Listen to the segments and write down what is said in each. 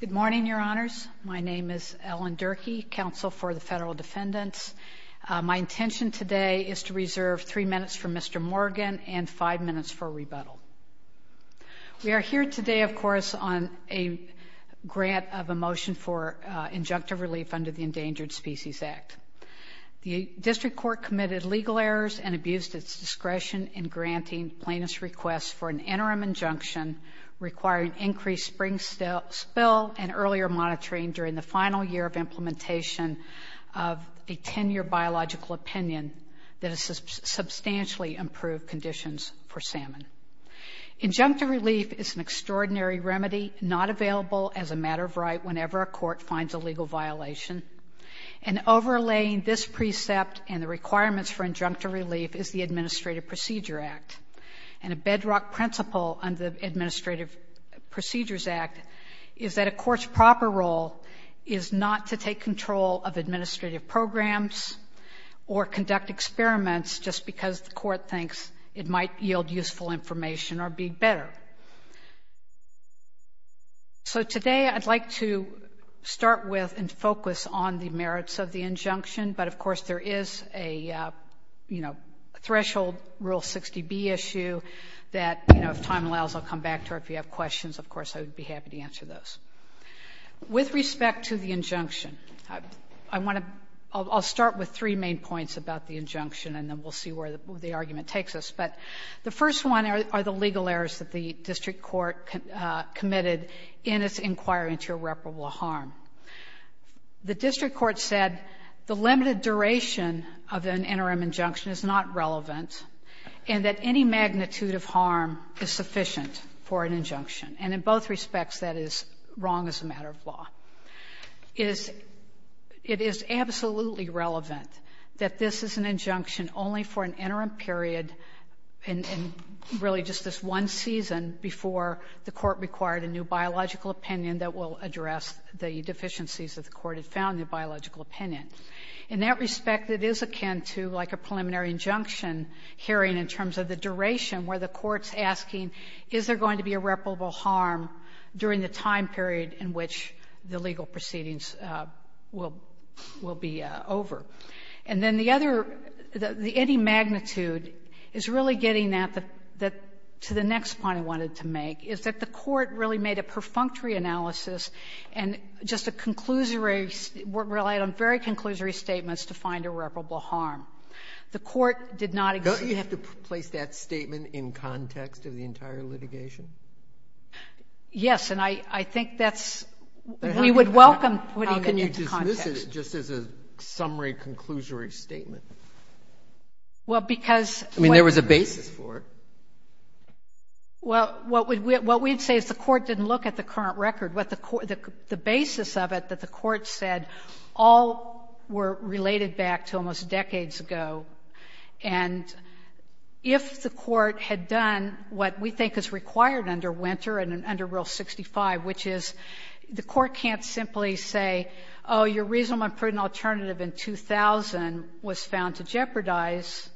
Good morning, Your Honors. My name is Ellen Durkee, Counsel for the Federal Defendants. My intention today is to reserve three minutes for Mr. Morgan and five minutes for rebuttal. We are here today, of course, on a grant of a motion for injunctive relief under the Endangered Species Act. The District Court committed legal errors and abused its discretion in spring spill and earlier monitoring during the final year of implementation of a 10-year biological opinion that has substantially improved conditions for salmon. Injunctive relief is an extraordinary remedy not available as a matter of right whenever a court finds a legal violation. And overlaying this precept and the requirements for injunctive relief is the Administrative Procedure Act. And a bedrock principle under the Administrative Procedures Act is that a court's proper role is not to take control of administrative programs or conduct experiments just because the court thinks it might yield useful information or be better. So today I'd like to start with and focus on the merits of the injunction. But, of course, there is a, you know, threshold Rule 60B issue that, you know, if time allows, I'll come back to it. If there are questions, of course, I would be happy to answer those. With respect to the injunction, I want to start with three main points about the injunction, and then we'll see where the argument takes us. But the first one are the legal errors that the District Court committed in its inquiry into irreparable harm. The District Court said the limited duration of an interim injunction is not relevant and that any magnitude of harm is sufficient for an injunction. And in both respects, that is wrong as a matter of law. It is absolutely relevant that this is an injunction only for an interim period and really just this one season before the court required a new biological opinion that will address the deficiencies that the court had found in the biological opinion. In that respect, it is akin to like a preliminary injunction hearing in terms of the duration where the court's asking, is there going to be irreparable harm during the time period in which the legal proceedings will be over? And then the other, the any magnitude is really getting at the next point I wanted to make, is that the court really made a perfunctory analysis and just a conclusory relate on very conclusory statements to find irreparable harm. The court did not execute to place that statement in context of the entire litigation? Yes. And I think that's we would welcome putting it into context. How can you dismiss it just as a summary, conclusory statement? Well, because I mean, there was a basis for it. Well, what we would say is the court didn't look at the current record. What the court the basis of it that the court said all were related back to almost decades ago. And if the court had done what we think is required under Winter and under Rule 65, which is the court can't simply say, oh, your reasonable and prudent alternative in 2000 was found to jeopardize,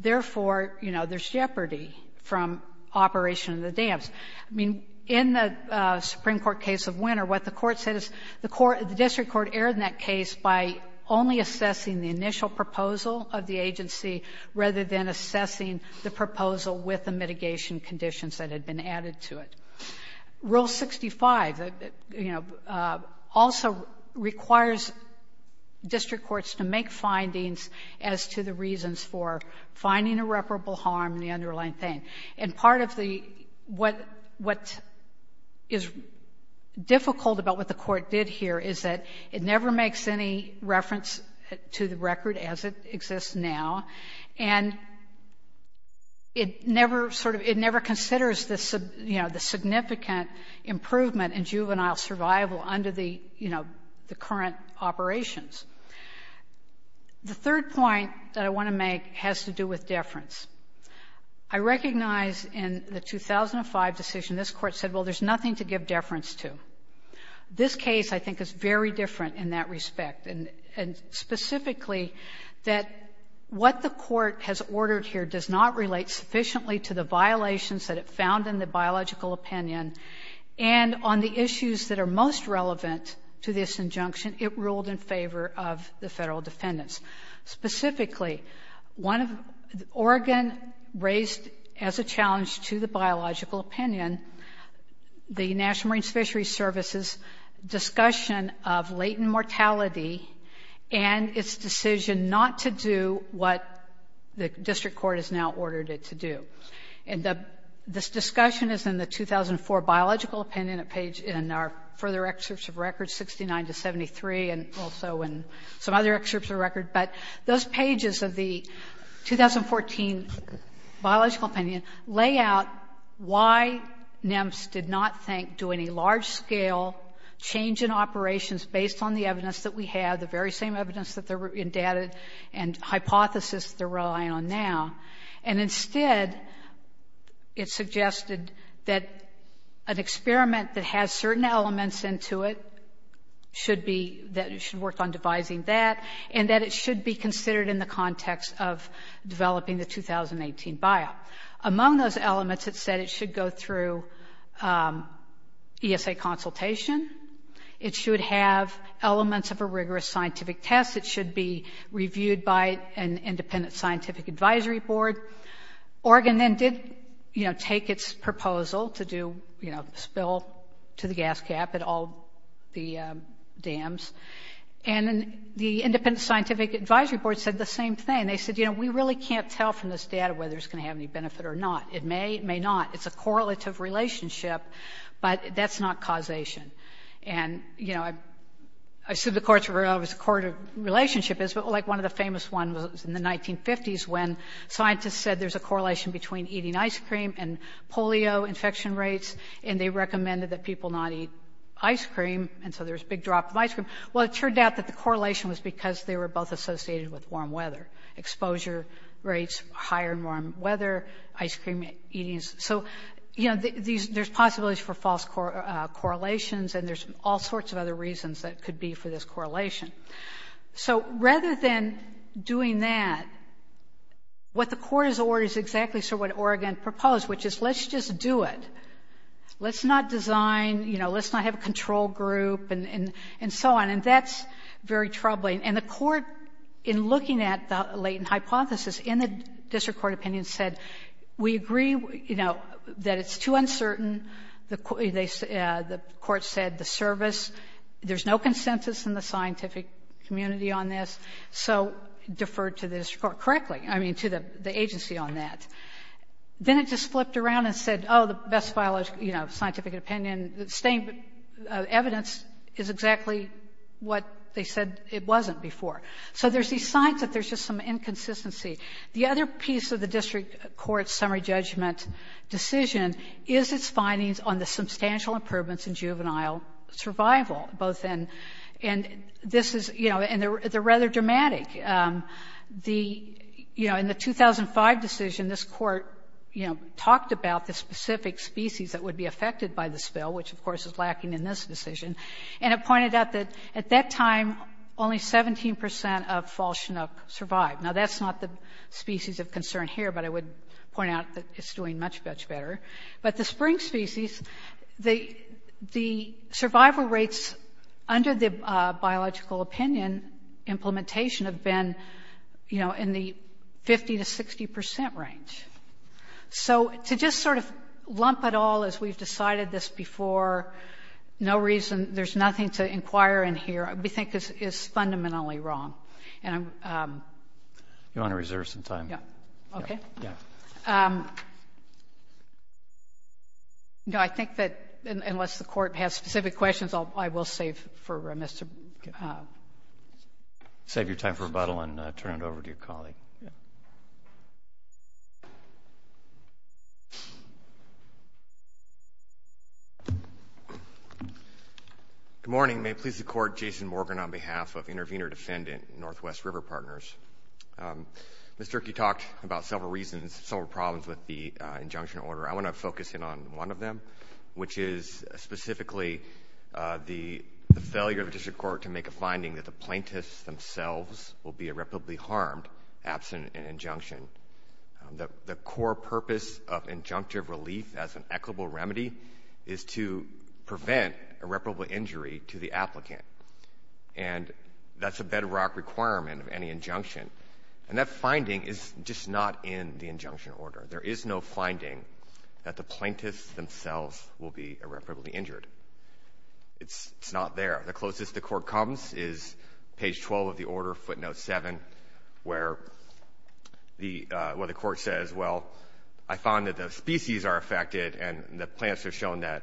therefore, you know, there's jeopardy from Operation of the Dams. I mean, in the Supreme Court case of Winter, what the court said is the court, the district court erred in that case by only assessing the initial proposal of the agency rather than assessing the proposal with the mitigation conditions that had been added to it. Rule 65, you know, also requires district courts to make findings as to the reasons for finding irreparable harm in the underlying thing. And part of the what what is difficult about what the court did here is that it never makes any reference to the record as it exists now, and it never sort of it never considers the, you know, the significant improvement in juvenile survival under the, you know, the current operations. The third point that I want to make has to do with deference. I recognize in the 2005 decision this Court said, well, there's nothing to give deference to. This case, I think, is very different in that respect, and specifically that what the court has ordered here does not relate sufficiently to the violations that it found in the biological opinion, and on the issues that are most relevant to this injunction, it ruled in favor of the federal defendants. Specifically, one of the Oregon raised as a challenge to the biological opinion, the National Marine Fisheries Service's discussion of latent mortality and its decision not to do what the district court has now ordered it to do. And this discussion is in the 2004 biological opinion, a page in our further excerpts of records, 69 to 73, and also in some other excerpts of record. But those pages of the 2014 biological opinion lay out why NEMS did not think, do any large-scale change in operations based on the evidence that we have, the very same evidence that they're endowed and hypothesis they're relying on now. And instead, it suggested that an experiment that has certain elements into it should be that it should work on devising that, and that it should be considered in the context of developing the 2018 bio. Among those elements, it said it should go through ESA consultation, it should have elements of a rigorous scientific test, it should be reviewed by an independent scientific advisory board. Oregon then did, you know, And the independent scientific advisory board said the same thing. They said, you know, we really can't tell from this data whether it's going to have any benefit or not. It may, it may not. It's a correlative relationship, but that's not causation. And, you know, I assume the courts are aware of what a correlative relationship is, but like one of the famous one was in the 1950s when scientists said there's a correlation between eating ice cream and polio infection rates, and they recommended that people not eat ice cream, and so there's a big drop of ice cream. Well, it turned out that the correlation was because they were both associated with warm weather, exposure rates higher in warm weather, ice cream eatings. So, you know, there's possibilities for false correlations, and there's all sorts of other reasons that could be for this correlation. So rather than doing that, what the court has ordered is exactly sort of what Oregon proposed, which is let's just do it. Let's not design, you know, let's not have a And that's very troubling. And the court, in looking at the latent hypothesis in the district court opinion, said we agree, you know, that it's too uncertain. The court said the service, there's no consensus in the scientific community on this, so defer to the district court correctly, I mean, to the agency on that. Then it just flipped around and said, oh, the best biological, you know, scientific opinion, the same evidence is exactly what they said it wasn't before. So there's these signs that there's just some inconsistency. The other piece of the district court's summary judgment decision is its findings on the substantial improvements in juvenile survival, both in, and this is, you know, and they're rather dramatic. The, you know, in the 2005 decision, this court, you know, talked about the specific species that would be affected by the spill, which, of course, is lacking in this decision. And it pointed out that at that time, only 17% of fall Chinook survived. Now, that's not the species of concern here, but I would point out that it's doing much, much better. But the spring species, the survival rates under the biological opinion implementation have been, you know, in the 50 to 60% range. So to just sort of lump it all as we've decided this before, no reason, there's nothing to inquire in here, we think is fundamentally wrong. And I'm ‑‑ You want to reserve some time? Yeah. Okay. Yeah. No, I think that unless the court has specific questions, I will save for Mr. Save your time for rebuttal and turn it over to your colleague. Good morning. May it please the court, Jason Morgan on behalf of Intervenor Defendant Northwest River Partners. Mr. Kirk, you talked about several reasons, several problems with the injunction order. I want to focus in on one of them, which is specifically the failure of the plaintiffs themselves will be irreparably harmed absent an injunction. The core purpose of injunctive relief as an equitable remedy is to prevent irreparable injury to the applicant. And that's a bedrock requirement of any injunction. And that finding is just not in the injunction order. There is no finding that the plaintiffs themselves will be irreparably injured. It's not there. The closest the court comes is page 12 of the order, footnote 7, where the court says, well, I found that the species are affected and the plants are shown that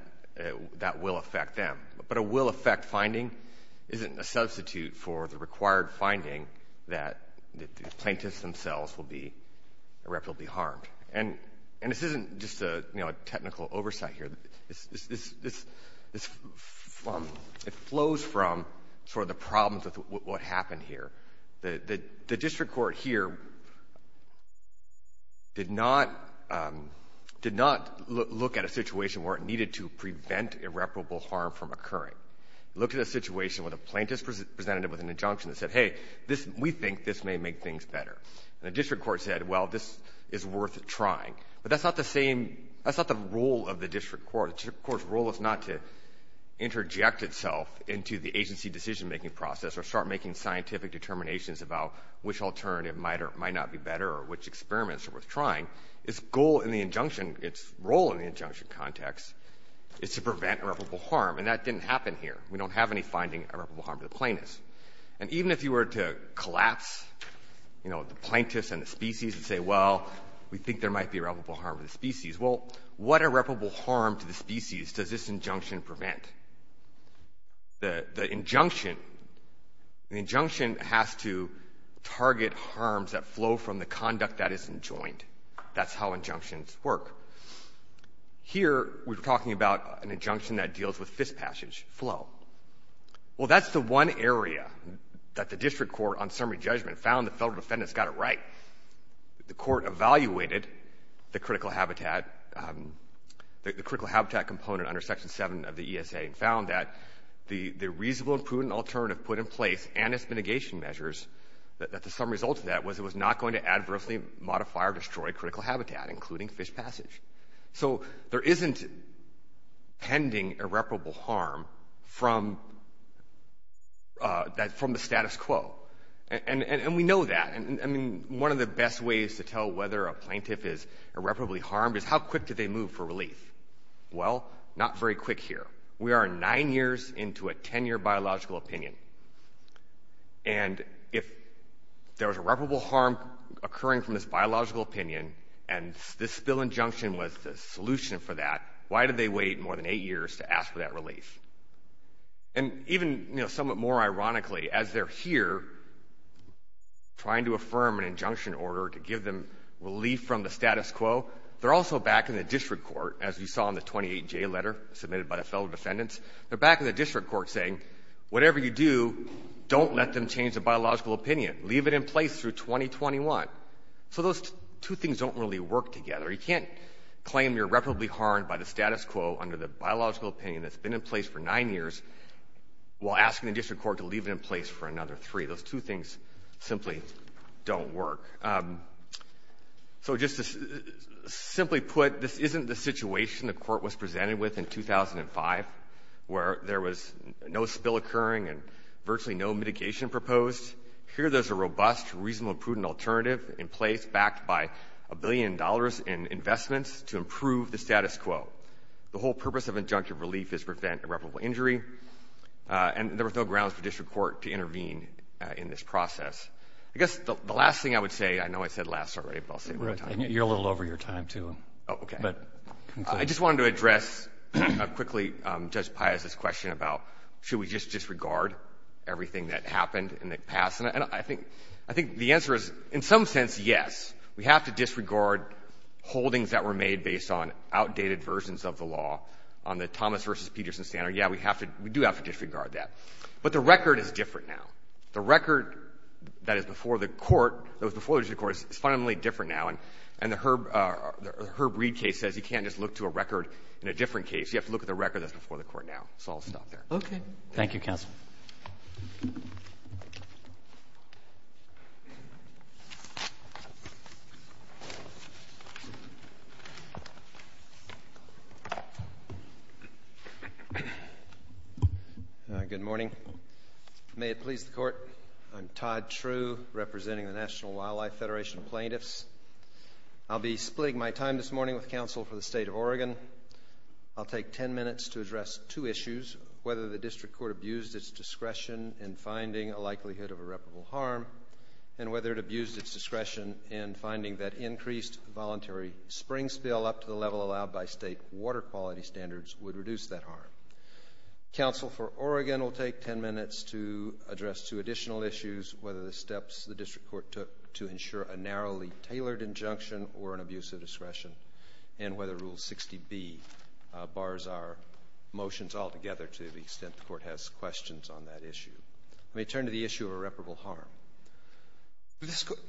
that will affect them. But a will affect finding isn't a substitute for the required finding that the plaintiffs themselves will be irreparably harmed. And this isn't just a technical oversight here. It flows from sort of the problems with what happened here. The district court here did not look at a situation where it needed to prevent irreparable harm from occurring. It looked at a situation where the plaintiffs presented it with an injunction that said, hey, we think this may make things better. And the district court said, well, this is worth trying. But that's not the same – that's not the role of the district court. The district court's role is not to interject itself into the agency decision-making process or start making scientific determinations about which alternative might or might not be better or which experiments are worth trying. Its goal in the injunction – its role in the injunction context is to prevent irreparable harm. And that didn't happen here. We don't have any finding of irreparable harm to the plaintiffs. And even if you were to collapse, you know, the plaintiffs and the species and say, well, we think there might be irreparable harm to the species. Well, what irreparable harm to the species does this injunction prevent? The injunction – the injunction has to target harms that flow from the conduct that isn't joined. That's how injunctions work. Here, we're talking about an injunction that deals with fist passage flow. Well, that's the one area that the district court, on summary judgment, found the federal defendants got it right. The court evaluated the critical habitat – the critical habitat component under Section 7 of the ESA and found that the reasonable and prudent alternative put in place and its mitigation measures, that the sum result of that was it was not going to adversely modify or destroy critical habitat, including fist passage. So there isn't pending irreparable harm from that – from the status quo. And we know that. And, I mean, one of the best ways to tell whether a plaintiff is irreparably harmed is how quick do they move for relief. Well, not very quick here. We are nine years into a 10-year biological opinion. And if there was irreparable harm occurring from this biological opinion and this spill injunction was the solution for that, And even, you know, somewhat more ironically, as they're here trying to affirm an injunction order to give them relief from the status quo, they're also back in the district court, as you saw in the 28J letter submitted by the federal defendants, they're back in the district court saying, whatever you do, don't let them change the biological opinion. Leave it in place through 2021. So those two things don't really work together. You can't claim you're irreparably harmed by the status quo under the biological opinion that's been in place for nine years while asking the district court to leave it in place for another three. Those two things simply don't work. So just to simply put, this isn't the situation the court was presented with in 2005, where there was no spill occurring and virtually no mitigation proposed. Here, there's a robust, reasonable, prudent alternative in place, backed by a billion dollars in investments to improve the status quo. The whole purpose of injunctive relief is to prevent irreparable injury, and there was no grounds for district court to intervene in this process. I guess the last thing I would say, I know I said last already, but I'll say it one more time. You're a little over your time, too. Oh, okay. I just wanted to address, quickly, Judge Pius's question about, should we just disregard everything that happened in the past? And I think the answer is, in some sense, yes. We have to disregard holdings that were made based on outdated versions of the law, on the Thomas v. Peterson standard. Yeah, we do have to disregard that. But the record is different now. The record that is before the court, that was before the district court, is fundamentally different now, and the Herb Reid case says you can't just look to a record in a different case. You have to look at the record that's before the court now. So I'll stop there. Okay. Thank you, counsel. Thank you. Good morning. May it please the court, I'm Todd True, representing the National Wildlife Federation plaintiffs. I'll be splitting my time this morning with counsel for the state of Oregon. I'll take 10 minutes to address two issues, whether the district court abused its discretion in finding a likelihood of irreparable harm, and whether it abused its discretion in finding that increased voluntary spring spill up to the level allowed by state water quality standards would reduce that harm. Counsel for Oregon will take 10 minutes to address two additional issues, whether the steps the district court took to ensure a narrowly tailored injunction or an abuse of discretion, and whether Rule 60B bars our motions altogether to the extent the court has questions on that issue. Let me turn to the issue of irreparable harm.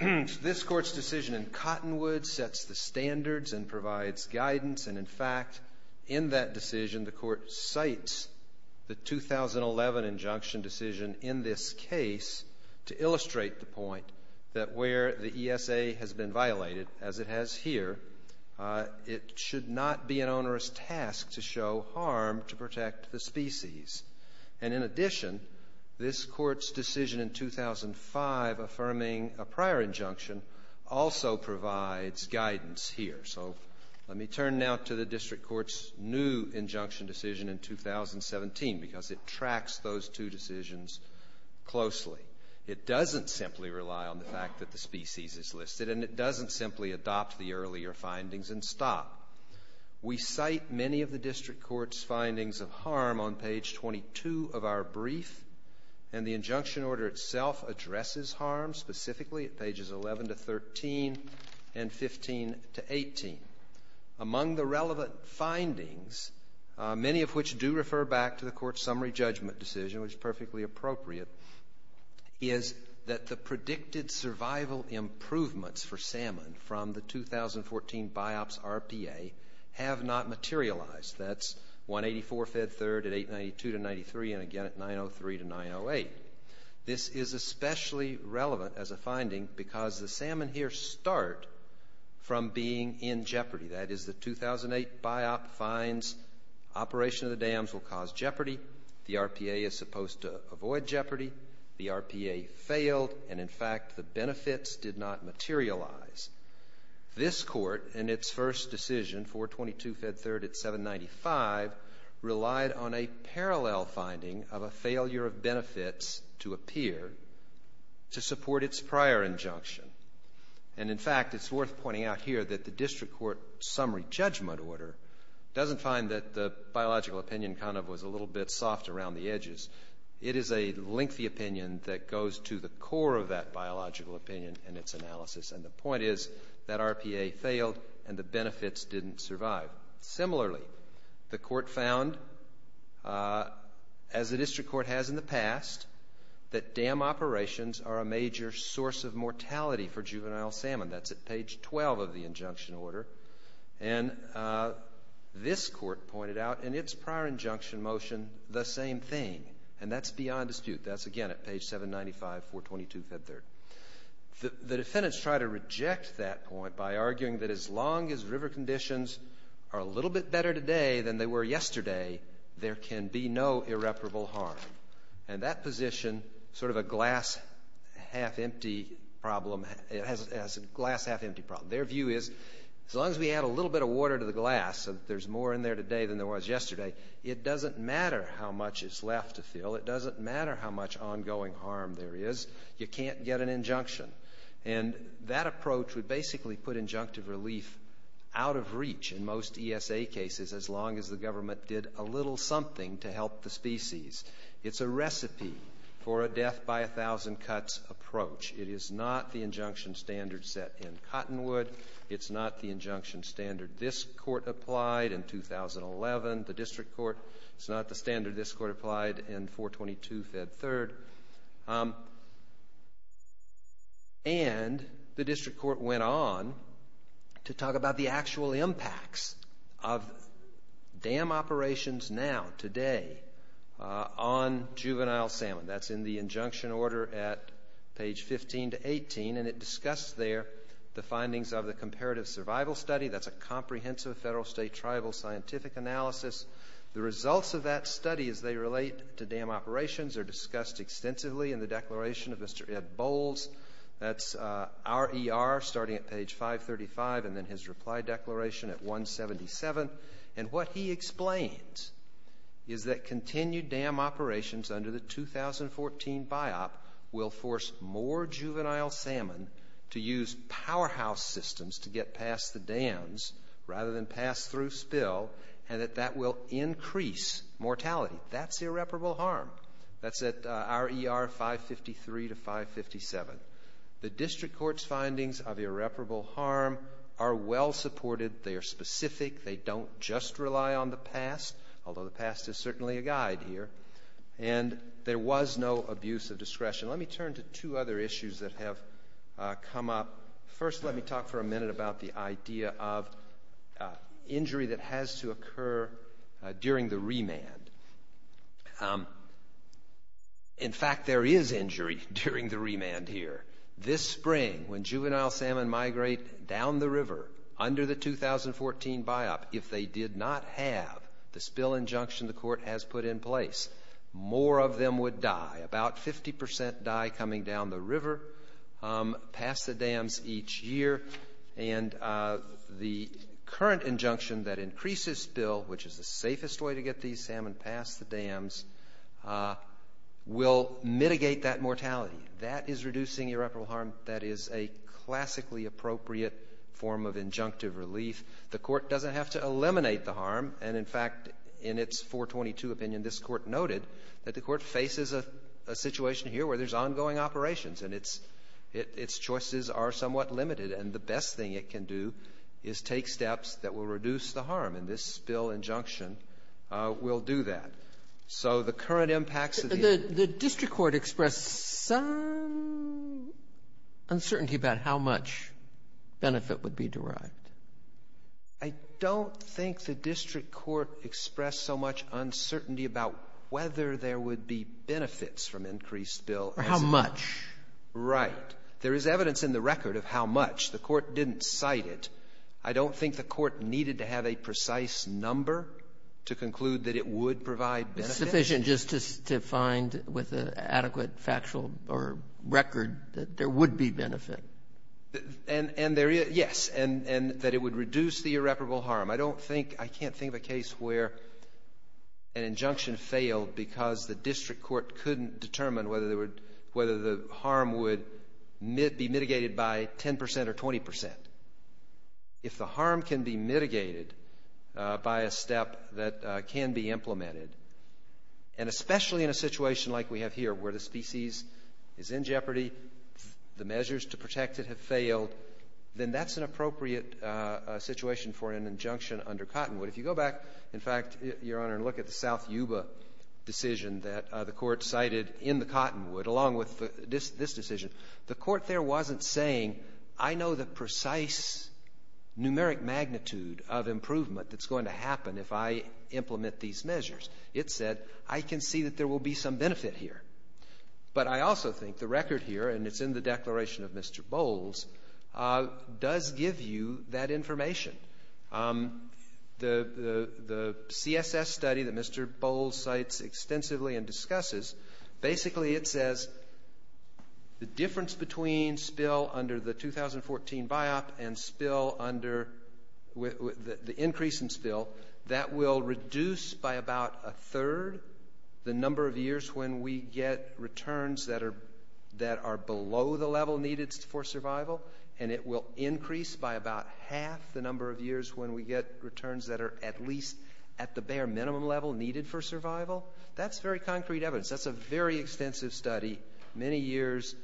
This court's decision in Cottonwood sets the standards and provides guidance. And in fact, in that decision, the court cites the 2011 injunction decision in this case to illustrate the point that where the ESA has been violated, as it has here, it should not be an onerous task to show harm to protect the species. And in addition, this court's decision in 2005 affirming a prior injunction also provides guidance here. So let me turn now to the district court's new injunction decision in 2017, because it tracks those two decisions closely. It doesn't simply rely on the fact that the species is listed, and it doesn't simply adopt the earlier findings and stop. We cite many of the district court's findings of harm on page 22 of our brief, and the injunction order itself addresses harm, specifically at pages 11 to 13 and 15 to 18. Among the relevant findings, many of which do refer back to the court's summary judgment decision, which is perfectly appropriate, is that the predicted survival improvements for salmon from the 2014 BiOps RPA have not materialized. That's 184 fed third at 892 to 93, and again at 903 to 908. This is especially relevant as a finding, because the salmon here start from being in jeopardy. That is, the 2008 BiOp finds operation of the dams will cause jeopardy, the RPA is supposed to avoid jeopardy, the RPA failed, and in fact the benefits did not materialize. This court, in its first decision, 422 fed third at 795, relied on a parallel finding of a failure of benefits to appear to support its prior injunction. And in fact, it's worth pointing out here that the district court summary judgment order doesn't find that the biological opinion kind of was a little bit soft around the edges. It is a lengthy opinion that goes to the core of that biological opinion and its analysis. And the point is that RPA failed and the benefits didn't survive. Similarly, the court found, as the district court has in the past, that dam operations are a major source of mortality for juvenile salmon. That's at page 12 of the injunction order. And this court pointed out, in its prior injunction motion, the same thing. And that's beyond dispute. That's again at page 795, 422 fed third. The defendants try to reject that point by arguing that as long as river conditions are a little bit better today than they were yesterday, there can be no irreparable harm. And that position, sort of a glass half-empty problem, it has a glass half-empty problem. Their view is, as long as we add a little bit of water to the glass, so that there's more in there today than there was yesterday, it doesn't matter how much is left to fill. It doesn't matter how much ongoing harm there is. You can't get an injunction. And that approach would basically put injunctive relief out of reach in most ESA cases, as long as the government did a little something to help the species. It's a recipe for a death by a thousand cuts approach. It is not the injunction standard set in Cottonwood. It's not the injunction standard this court applied in 2011, the district court. It's not the standard this court applied in 422 fed third. And the district court went on to talk about the actual impacts of dam operations now, today, on juvenile salmon. That's in the injunction order at page 15 to 18. And it discussed there the findings of the comparative survival study. That's a comprehensive federal state tribal scientific analysis. The results of that study, as they relate to dam operations, are discussed extensively in the declaration of Mr. Ed Bowles. That's RER, starting at page 535, and then his reply declaration at 177. And what he explains is that continued dam operations under the 2014 BIOP will force more juvenile salmon to use powerhouse systems to get past the dams, rather than pass through spill, and that that will increase mortality. That's irreparable harm. That's at RER 553 to 557. The district court's findings of irreparable harm are well supported. They are specific. They don't just rely on the past, although the past is certainly a guide here. And there was no abuse of discretion. Let me turn to two other issues that have come up. First, let me talk for a minute about the idea of injury that has to occur during the remand. In fact, there is injury during the remand here. This spring, when juvenile salmon migrate down the river, under the 2014 BIOP, if they did not have the spill injunction the court has put in place, more of them would die. About 50% die coming down the river, past the dams each year. And the current injunction that increases spill, which is the safest way to get these salmon past the dams, will mitigate that mortality. That is reducing irreparable harm. That is a classically appropriate form of injunctive relief. The court doesn't have to eliminate the harm. And in fact, in its 422 opinion, this court noted that the court faces a situation here where there's ongoing operations, and its choices are somewhat limited. And the best thing it can do is take steps that will reduce the harm. And this spill injunction will do that. So the current impacts of the impact. Does your court express some uncertainty about how much benefit would be derived? I don't think the district court expressed so much uncertainty about whether there would be benefits from increased spill. Or how much. Right. There is evidence in the record of how much. The court didn't cite it. I don't think the court needed to have a precise number to conclude that it would provide benefits. But it's sufficient just to find with an adequate factual or record that there would be benefit. And there is, yes. And that it would reduce the irreparable harm. I don't think, I can't think of a case where an injunction failed because the district court couldn't determine whether the harm would be mitigated by 10% or 20%. If the harm can be mitigated by a step that can be implemented, and especially in a situation like we have here where the species is in jeopardy. The measures to protect it have failed. Then that's an appropriate situation for an injunction under Cottonwood. If you go back, in fact, your honor, and look at the South Yuba decision that the court cited in the Cottonwood, along with this decision. The court there wasn't saying, I know the precise numeric magnitude of improvement that's going to happen if I implement these measures. It said, I can see that there will be some benefit here. But I also think the record here, and it's in the declaration of Mr. Bowles, does give you that information. The CSS study that Mr. Bowles cites extensively and discusses, basically it says the difference between spill under the 2014 biop and spill under the increase in spill. That will reduce by about a third the number of years when we get returns that are below the level needed for survival. And it will increase by about half the number of years when we get returns that are at least at the bare minimum level needed for survival. That's very concrete evidence. That's a very extensive study. Many years,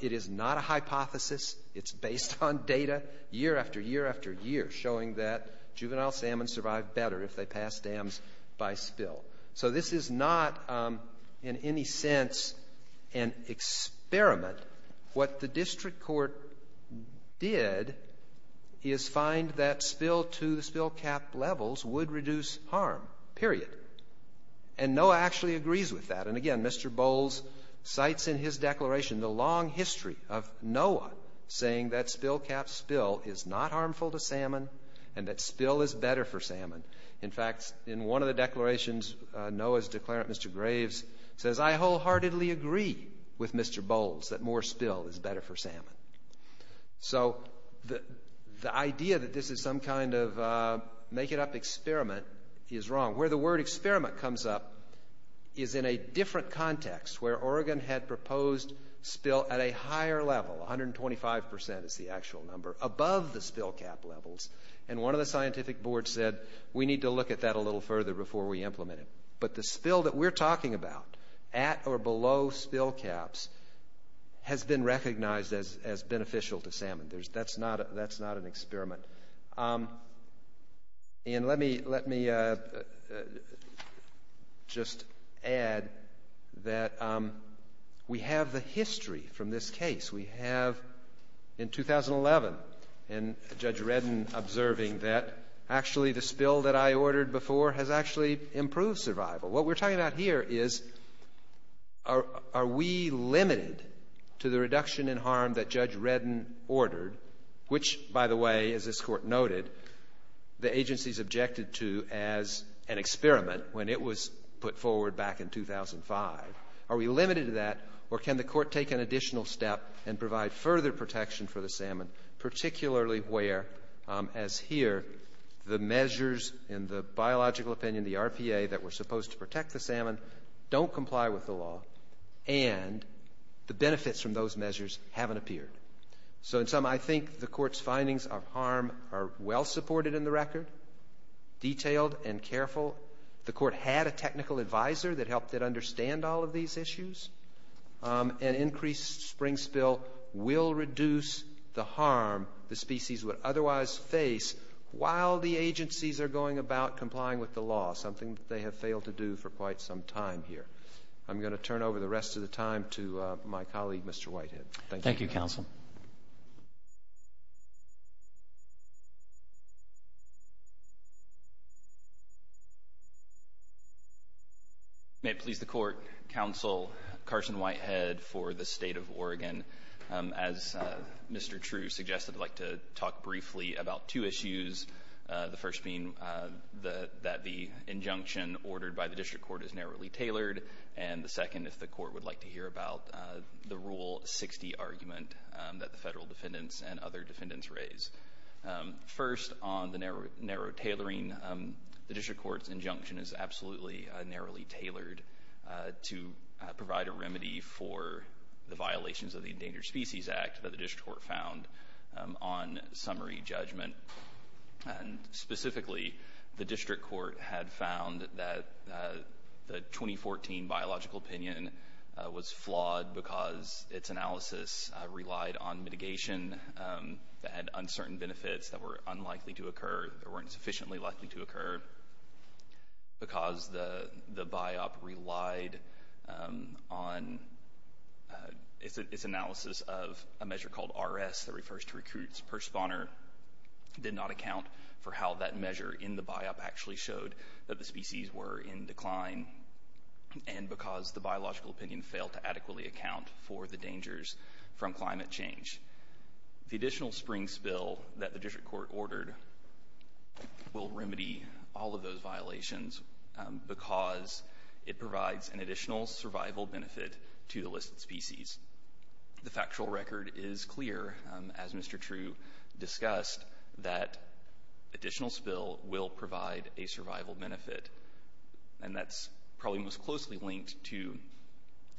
it is not a hypothesis. It's based on data, year after year after year, showing that juvenile salmon survive better if they pass dams by spill. So this is not, in any sense, an experiment. What the district court did is find that spill to the spill cap levels would reduce harm, period. And NOAA actually agrees with that. And again, Mr. Bowles cites in his declaration the long history of NOAA saying that spill cap spill is not harmful to salmon and that spill is better for salmon. In fact, in one of the declarations, NOAA's declarant, Mr. Graves, says, I wholeheartedly agree with Mr. Bowles that more spill is better for salmon. So the idea that this is some kind of make it up experiment is wrong. Where the word experiment comes up is in a different context where Oregon had 25% is the actual number, above the spill cap levels. And one of the scientific boards said, we need to look at that a little further before we implement it. But the spill that we're talking about, at or below spill caps, has been recognized as beneficial to salmon. That's not an experiment. And let me just add that we have the history from this case. We have, in 2011, and Judge Redden observing that, actually the spill that I ordered before has actually improved survival. What we're talking about here is, are we limited to the reduction in harm that Judge Redden ordered, which, by the way, as this court noted, the agency's objected to as an experiment when it was put forward back in 2005. Are we limited to that, or can the court take an additional step and provide further protection for the salmon, particularly where, as here, the measures in the biological opinion, the RPA, that were supposed to protect the salmon, don't comply with the law, and the benefits from those measures haven't appeared. So in sum, I think the court's findings of harm are well supported in the record, detailed and careful. The court had a technical advisor that helped it understand all of these issues. An increased spring spill will reduce the harm the species would otherwise face while the agencies are going about complying with the law, something that they have failed to do for quite some time here. I'm going to turn over the rest of the time to my colleague, Mr. Whitehead. Thank you. Thank you, counsel. May it please the court, counsel, Carson Whitehead for the state of Oregon. As Mr. True suggested, I'd like to talk briefly about two issues. The first being that the injunction ordered by the district court is narrowly tailored, and the second, if the court would like to hear about the rule 60 argument that the federal defendants and other defendants raised. First, on the narrow tailoring, the district court's injunction is absolutely narrowly tailored to provide a remedy for the violations of the Endangered Species Act that the district court found on summary judgment, and specifically, the district court had found that the 2014 biological opinion was flawed because its analysis relied on mitigation that had uncertain benefits that were unlikely to occur, that weren't sufficiently likely to occur, because the biop relied on its analysis of a measure called RS, that refers to recruits per spawner, did not account for how that measure in the biop actually showed that the species were in decline, and because the biological opinion failed to adequately account for the dangers from climate change. The additional spring spill that the district court ordered will remedy all of those violations because it provides an additional survival benefit to the listed species. The factual record is clear, as Mr. True discussed, that additional spill will provide a survival benefit, and that's probably most closely linked to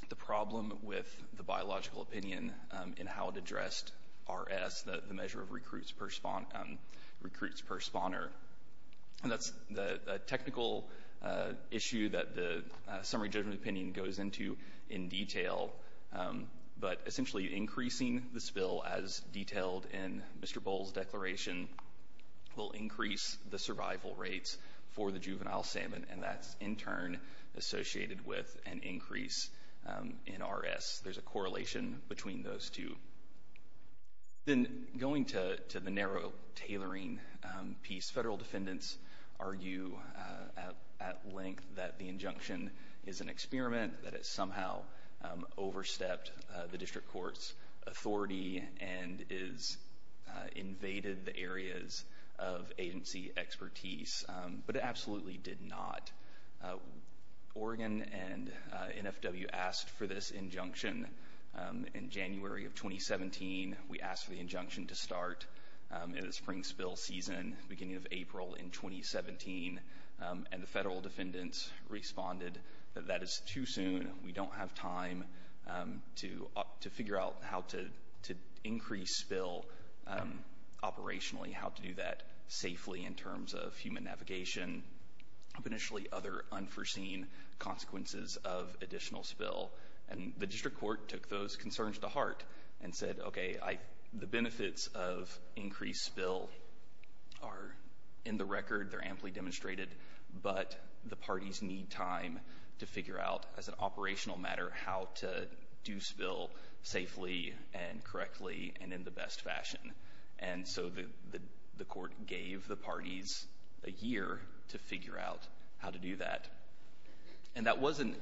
the problem with the biological opinion in how it addressed RS, the measure of recruits per spawner, and that's the technical issue that the summary judgment opinion goes into in detail, but essentially increasing the spill, as detailed in Mr. Boll's declaration, will increase the survival rates for the juvenile salmon, and that's, in turn, associated with an increase in RS. There's a correlation between those two. Then going to the narrow tailoring piece, federal defendants argue at length that the injunction is an experiment, that it somehow overstepped the district court's authority and has invaded the areas of agency expertise, but it absolutely did not. Oregon and NFW asked for this injunction in January of 2017. We asked for the injunction to start in the spring spill season, beginning of April in 2017, and the federal defendants responded that that is too soon. We don't have time to figure out how to increase spill operationally, how to do that safely in terms of human navigation, potentially other unforeseen consequences of additional spill, and the district court took those concerns to heart and said, OK, the benefits of increased spill are in the record. They're amply demonstrated, but the parties need time to figure out, as an operational matter, how to do spill safely and correctly and in the best fashion. And so the court gave the parties a year to figure out how to do that. And that wasn't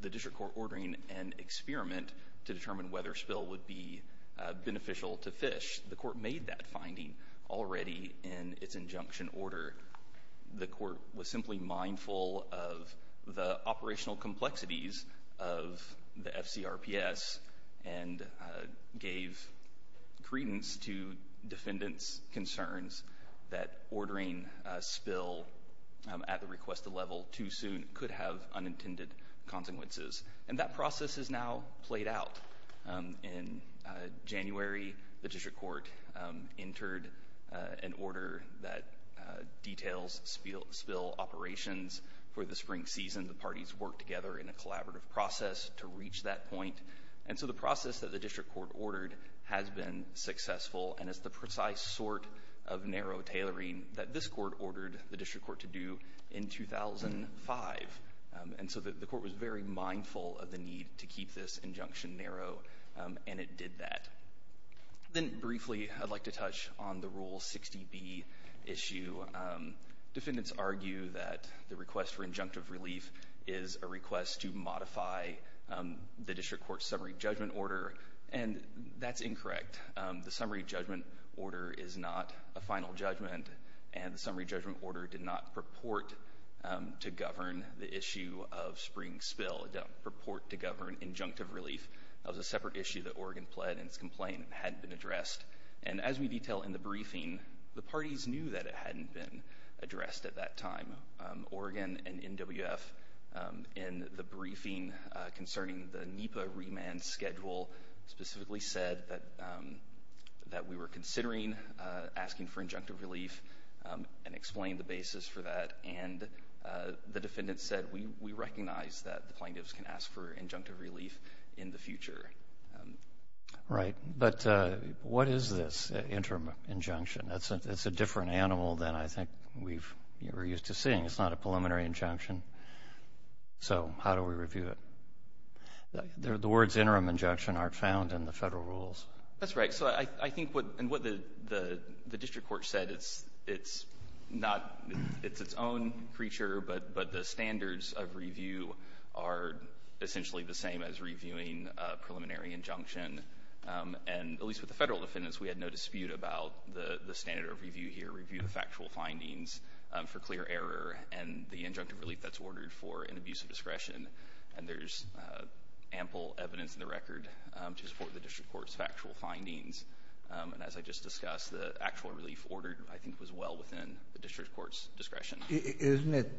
the district court ordering an experiment to determine whether spill would be beneficial to fish. The court made that finding already in its injunction order. The court was simply mindful of the operational complexities of the FCRPS and gave credence to defendants' concerns that ordering a spill at the requested level too soon could have unintended consequences. And that process has now played out. In January, the district court entered an order that details spill operations for the spring season. The parties worked together in a collaborative process to reach that point. And so the process that the district court ordered has been successful and is the precise sort of narrow tailoring that this court ordered the district court to do in 2005. And so the court was very mindful of the need to keep this injunction narrow, and it did that. Then briefly, I'd like to touch on the Rule 60B issue. Defendants argue that the request for injunctive relief is a request to modify the district court's summary judgment order, and that's incorrect. The summary judgment order is not a final judgment, and the summary judgment order did not purport to govern the issue of spring spill. It didn't purport to govern injunctive relief. That was a separate issue that Oregon pled in its complaint and hadn't been addressed. And as we detail in the briefing, the parties knew that it hadn't been addressed at that time. Oregon and NWF, in the briefing concerning the NEPA remand schedule, specifically said that we were considering asking for injunctive relief and explained the basis for that. And the defendant said, we recognize that the plaintiffs can ask for injunctive relief in the future. Right. But what is this interim injunction? It's a different animal than I think we're used to seeing. It's not a preliminary injunction. So how do we review it? The words interim injunction aren't found in the federal rules. That's right. And what the district court said, it's its own creature, but the standards of review are essentially the same as reviewing a preliminary injunction. And at least with the federal defendants, we had no dispute about the standard of review here, review the factual findings for clear error and the injunctive relief that's ordered for an abuse of discretion. And there's ample evidence in the record to support the district court's factual findings. And as I just discussed, the actual relief ordered, I think, was well within the district court's discretion. Isn't it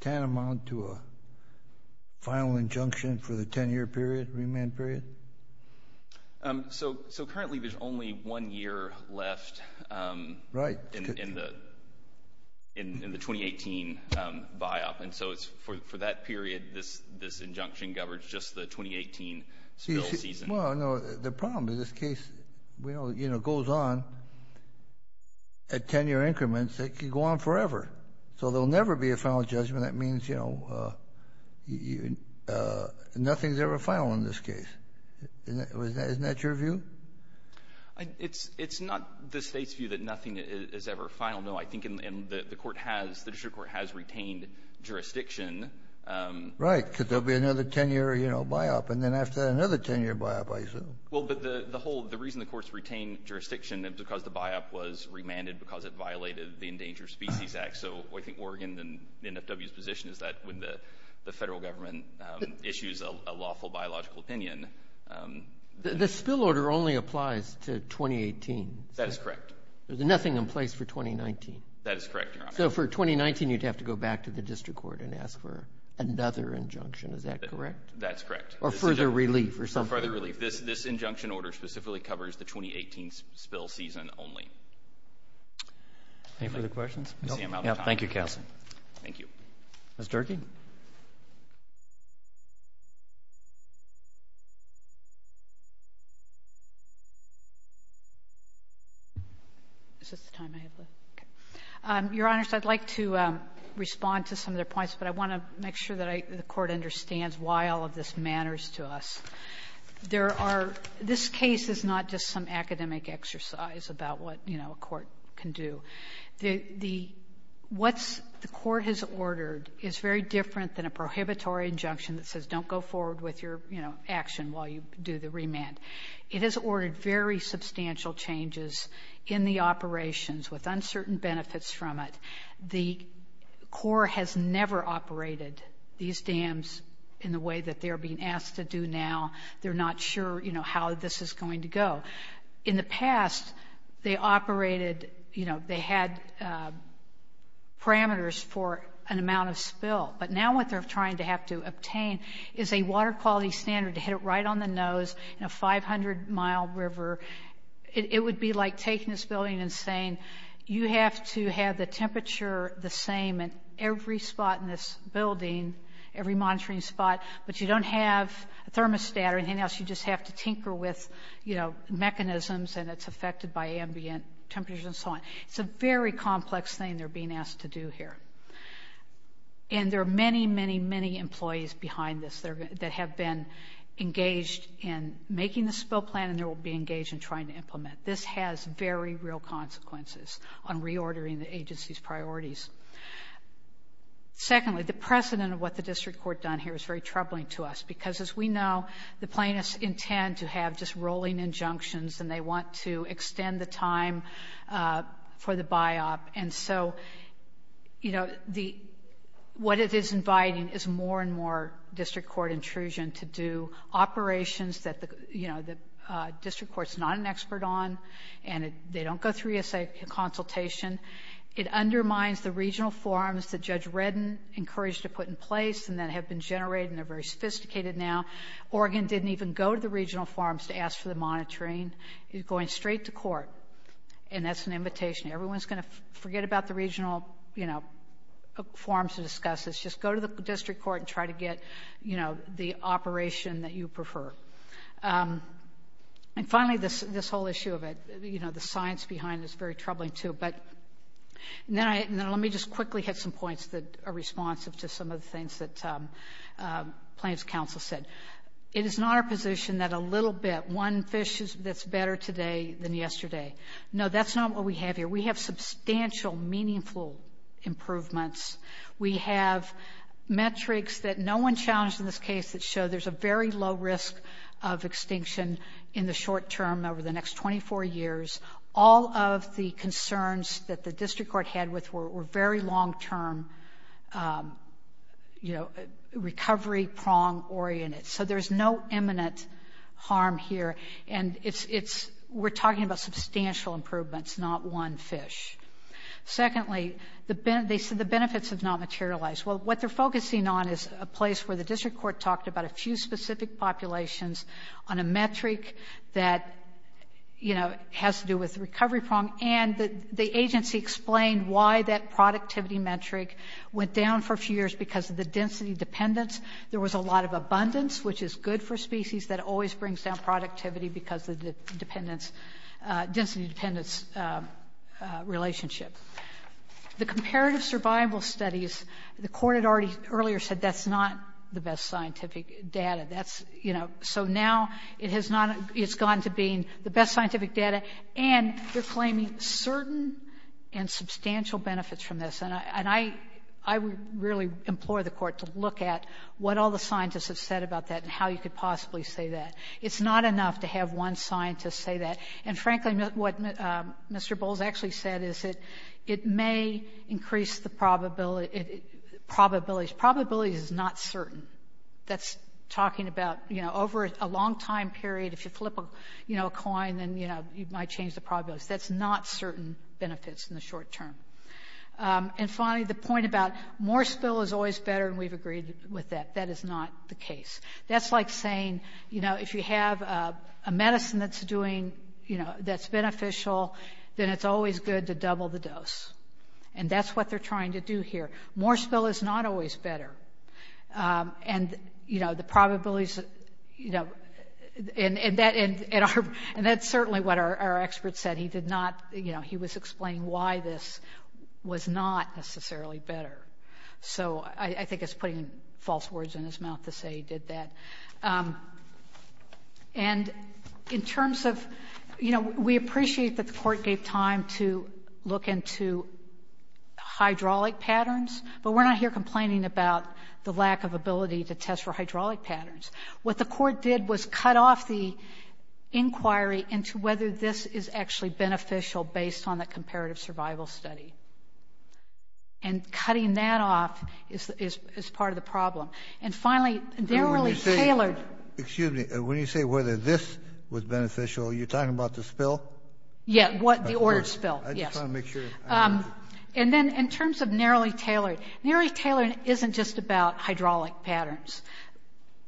tantamount to a final injunction for the 10-year period, remand period? So currently, there's only one year left in the 2018 buy-up. And so for that period, this injunction governs just the 2018 spill season. Well, no, the problem in this case, well, it goes on at 10-year increments. It could go on forever. So there'll never be a final judgment. That means nothing's ever final in this case. Isn't that your view? It's not the state's view that nothing is ever final. No, I think the district court has retained jurisdiction. Right, because there'll be another 10-year buy-up. And then after another 10-year buy-up, I assume. Well, but the reason the court's retained jurisdiction is because the buy-up was remanded, because it violated the Endangered Species Act. So I think Oregon and NFW's position is that when the federal government issues a lawful biological opinion. The spill order only applies to 2018. That is correct. There's nothing in place for 2019. That is correct, Your Honor. So for 2019, you'd have to go back to the district court and ask for another injunction. Is that correct? That's correct. Or further relief, or something. Or further relief. This injunction order specifically covers the 2018 spill season only. Any further questions? Nope. I see I'm out of time. Thank you, Counsel. Thank you. Ms. Durkee? Is this the time I have left? Your Honors, I'd like to respond to some of their points. But I want to make sure that the Court understands why all of this matters to us. There are, this case is not just some academic exercise about what a court can do. What the Court has ordered is very different than a prohibitory injunction that says don't go forward with your action while you do the remand. It has ordered very substantial changes in the operations with uncertain benefits from it. The Court has never operated these dams in the way that they are being asked to do now. They're not sure how this is going to go. In the past, they operated, they had parameters for an amount of spill. But now what they're trying to have to obtain is a water quality standard to hit it right on the nose in a 500 mile river. It would be like taking this building and saying, you have to have the temperature the same in every spot in this building, every monitoring spot. But you don't have a thermostat or anything else. You just have to tinker with mechanisms and it's affected by ambient temperatures and so on. It's a very complex thing they're being asked to do here. And there are many, many, many employees behind this that have been engaged in making the spill plan and they will be engaged in trying to implement. This has very real consequences on reordering the agency's priorities. Secondly, the precedent of what the District Court done here is very troubling to us. Because as we know, the plaintiffs intend to have just rolling injunctions and they want to extend the time for the biop. And so what it is inviting is more and more District Court intrusion to do operations that the District Court's not an expert on and they don't go through USA consultation. It undermines the regional forums that Judge Redden encouraged to put in place and that have been generated and are very sophisticated now. Oregon didn't even go to the regional forums to ask for the monitoring. It's going straight to court. And that's an invitation. Everyone's going to forget about the regional forums to discuss this. Just go to the District Court and try to get the operation that you prefer. And finally, this whole issue of the science behind is very troubling too. But let me just quickly hit some points that are responsive to some of the things that Plaintiff's counsel said. It is not our position that a little bit, one fish that's better today than yesterday. No, that's not what we have here. We have substantial, meaningful improvements. We have metrics that no one challenged in this case that show there's a very low risk of extinction in the short term over the next 24 years. All of the concerns that the District Court had with were very long-term, recovery-prong oriented. So there's no imminent harm here. And we're talking about substantial improvements, not one fish. Secondly, they said the benefits have not materialized. Well, what they're focusing on is a place where the District Court talked about a few specific populations on a metric that has to do with recovery prong. And the agency explained why that productivity metric went down for a few years because of the density dependence. There was a lot of abundance, which is good for species. That always brings down productivity because of the density dependence relationship. The comparative survival studies, the court had already earlier said that's not the best scientific data. So now it's gone to being the best scientific data. And they're claiming certain and substantial benefits from this. And I would really implore the court to look at what all the scientists have said about that and how you could possibly say that. It's not enough to have one scientist say that. And frankly, what Mr. Bowles actually said is that it may increase the probabilities. Probability is not certain. That's talking about, you know, over a long time period, if you flip a coin, then you might change the probabilities. That's not certain benefits in the short term. And finally, the point about more spill is always better, and we've agreed with that. That is not the case. That's like saying, you know, if you have a medicine that's beneficial, then it's always good to double the dose. And that's what they're trying to do here. More spill is not always better. And, you know, the probabilities... You know, and that's certainly what our expert said. He did not... You know, he was explaining why this was not necessarily better. So I think it's putting false words in his mouth to say he did that. And in terms of... You know, we appreciate that the court gave time to look into hydraulic patterns, but we're not here complaining about the lack of ability to test for hydraulic patterns. What the court did was cut off the inquiry into whether this is actually beneficial based on the comparative survival study. And cutting that off is part of the problem. And finally, narrowly tailored... Excuse me, when you say whether this was beneficial, you're talking about the spill? Yeah, the ordered spill, yes. I just want to make sure... And then in terms of narrowly tailored, narrowly tailored isn't just about hydraulic patterns.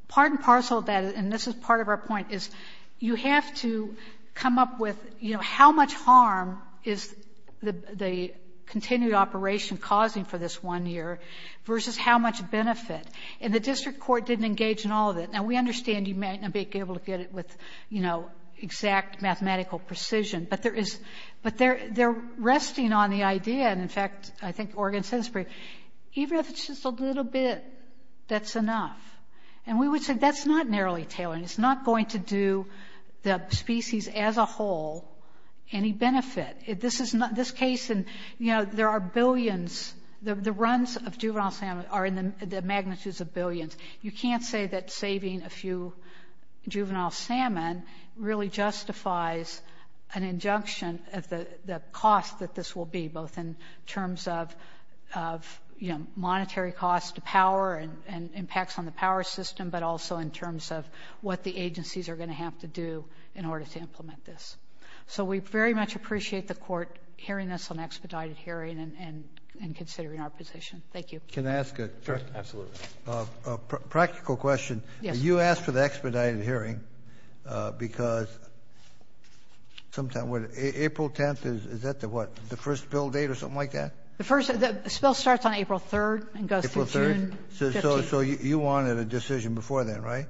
Part and parcel of that, and this is part of our point, is you have to come up with, you know, how much harm is the continued operation causing for this one year versus how much benefit. And the district court didn't engage in all of it. Now, we understand you might not be able to get it with, you know, exact mathematical precision, but they're resting on the idea, and in fact, I think Oregon says it's pretty... Even if it's just a little bit, that's enough. And we would say that's not narrowly tailored. It's not going to do the species as a whole any benefit. This case in, you know, there are billions. The runs of juvenile salmon are in the magnitudes of billions. You can't say that saving a few juvenile salmon really justifies an injunction of the cost that this will be both in terms of, you know, monetary costs to power and impacts on the power system, but also in terms of what the agencies are going to have to do in order to implement this. So we very much appreciate the court hearing this on expedited hearing and considering our position. Thank you. Can I ask a practical question? Yes. You asked for the expedited hearing because sometimes... April 10th, is that the what? The first bill date or something like that? The first, this bill starts on April 3rd and goes through June 15th. So you wanted a decision before then, right?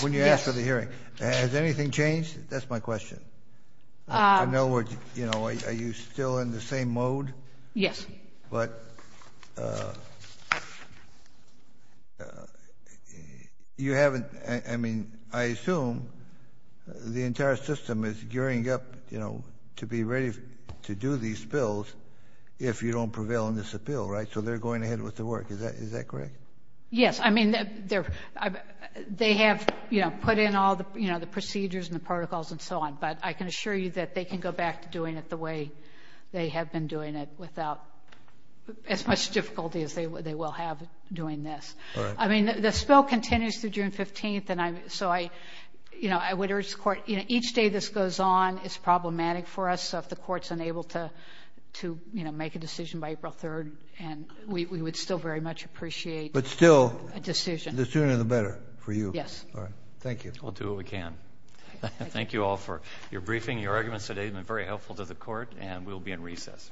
When you asked for the hearing. Has anything changed? That's my question. I know we're, you know, are you still in the same mode? Yes. But... You haven't, I mean, I assume the entire system is gearing up, you know, to be ready to do these bills if you don't prevail in this appeal, right? So they're going ahead with the work. Is that correct? Yes. I mean, they have, you know, put in all the, you know, the procedures and the protocols and so on, but I can assure you that they can go back to doing it the way they have been doing it without as much difficulty as they would like to. We'll have doing this. I mean, the spell continues through June 15th. And I'm, so I, you know, I would urge the court, you know, each day this goes on, it's problematic for us. So if the court's unable to, you know, make a decision by April 3rd and we would still very much appreciate. But still. A decision. The sooner the better for you. Yes. All right. Thank you. We'll do what we can. Thank you all for your briefing, your arguments today have been very helpful to the court and we'll be in recess. Thank you.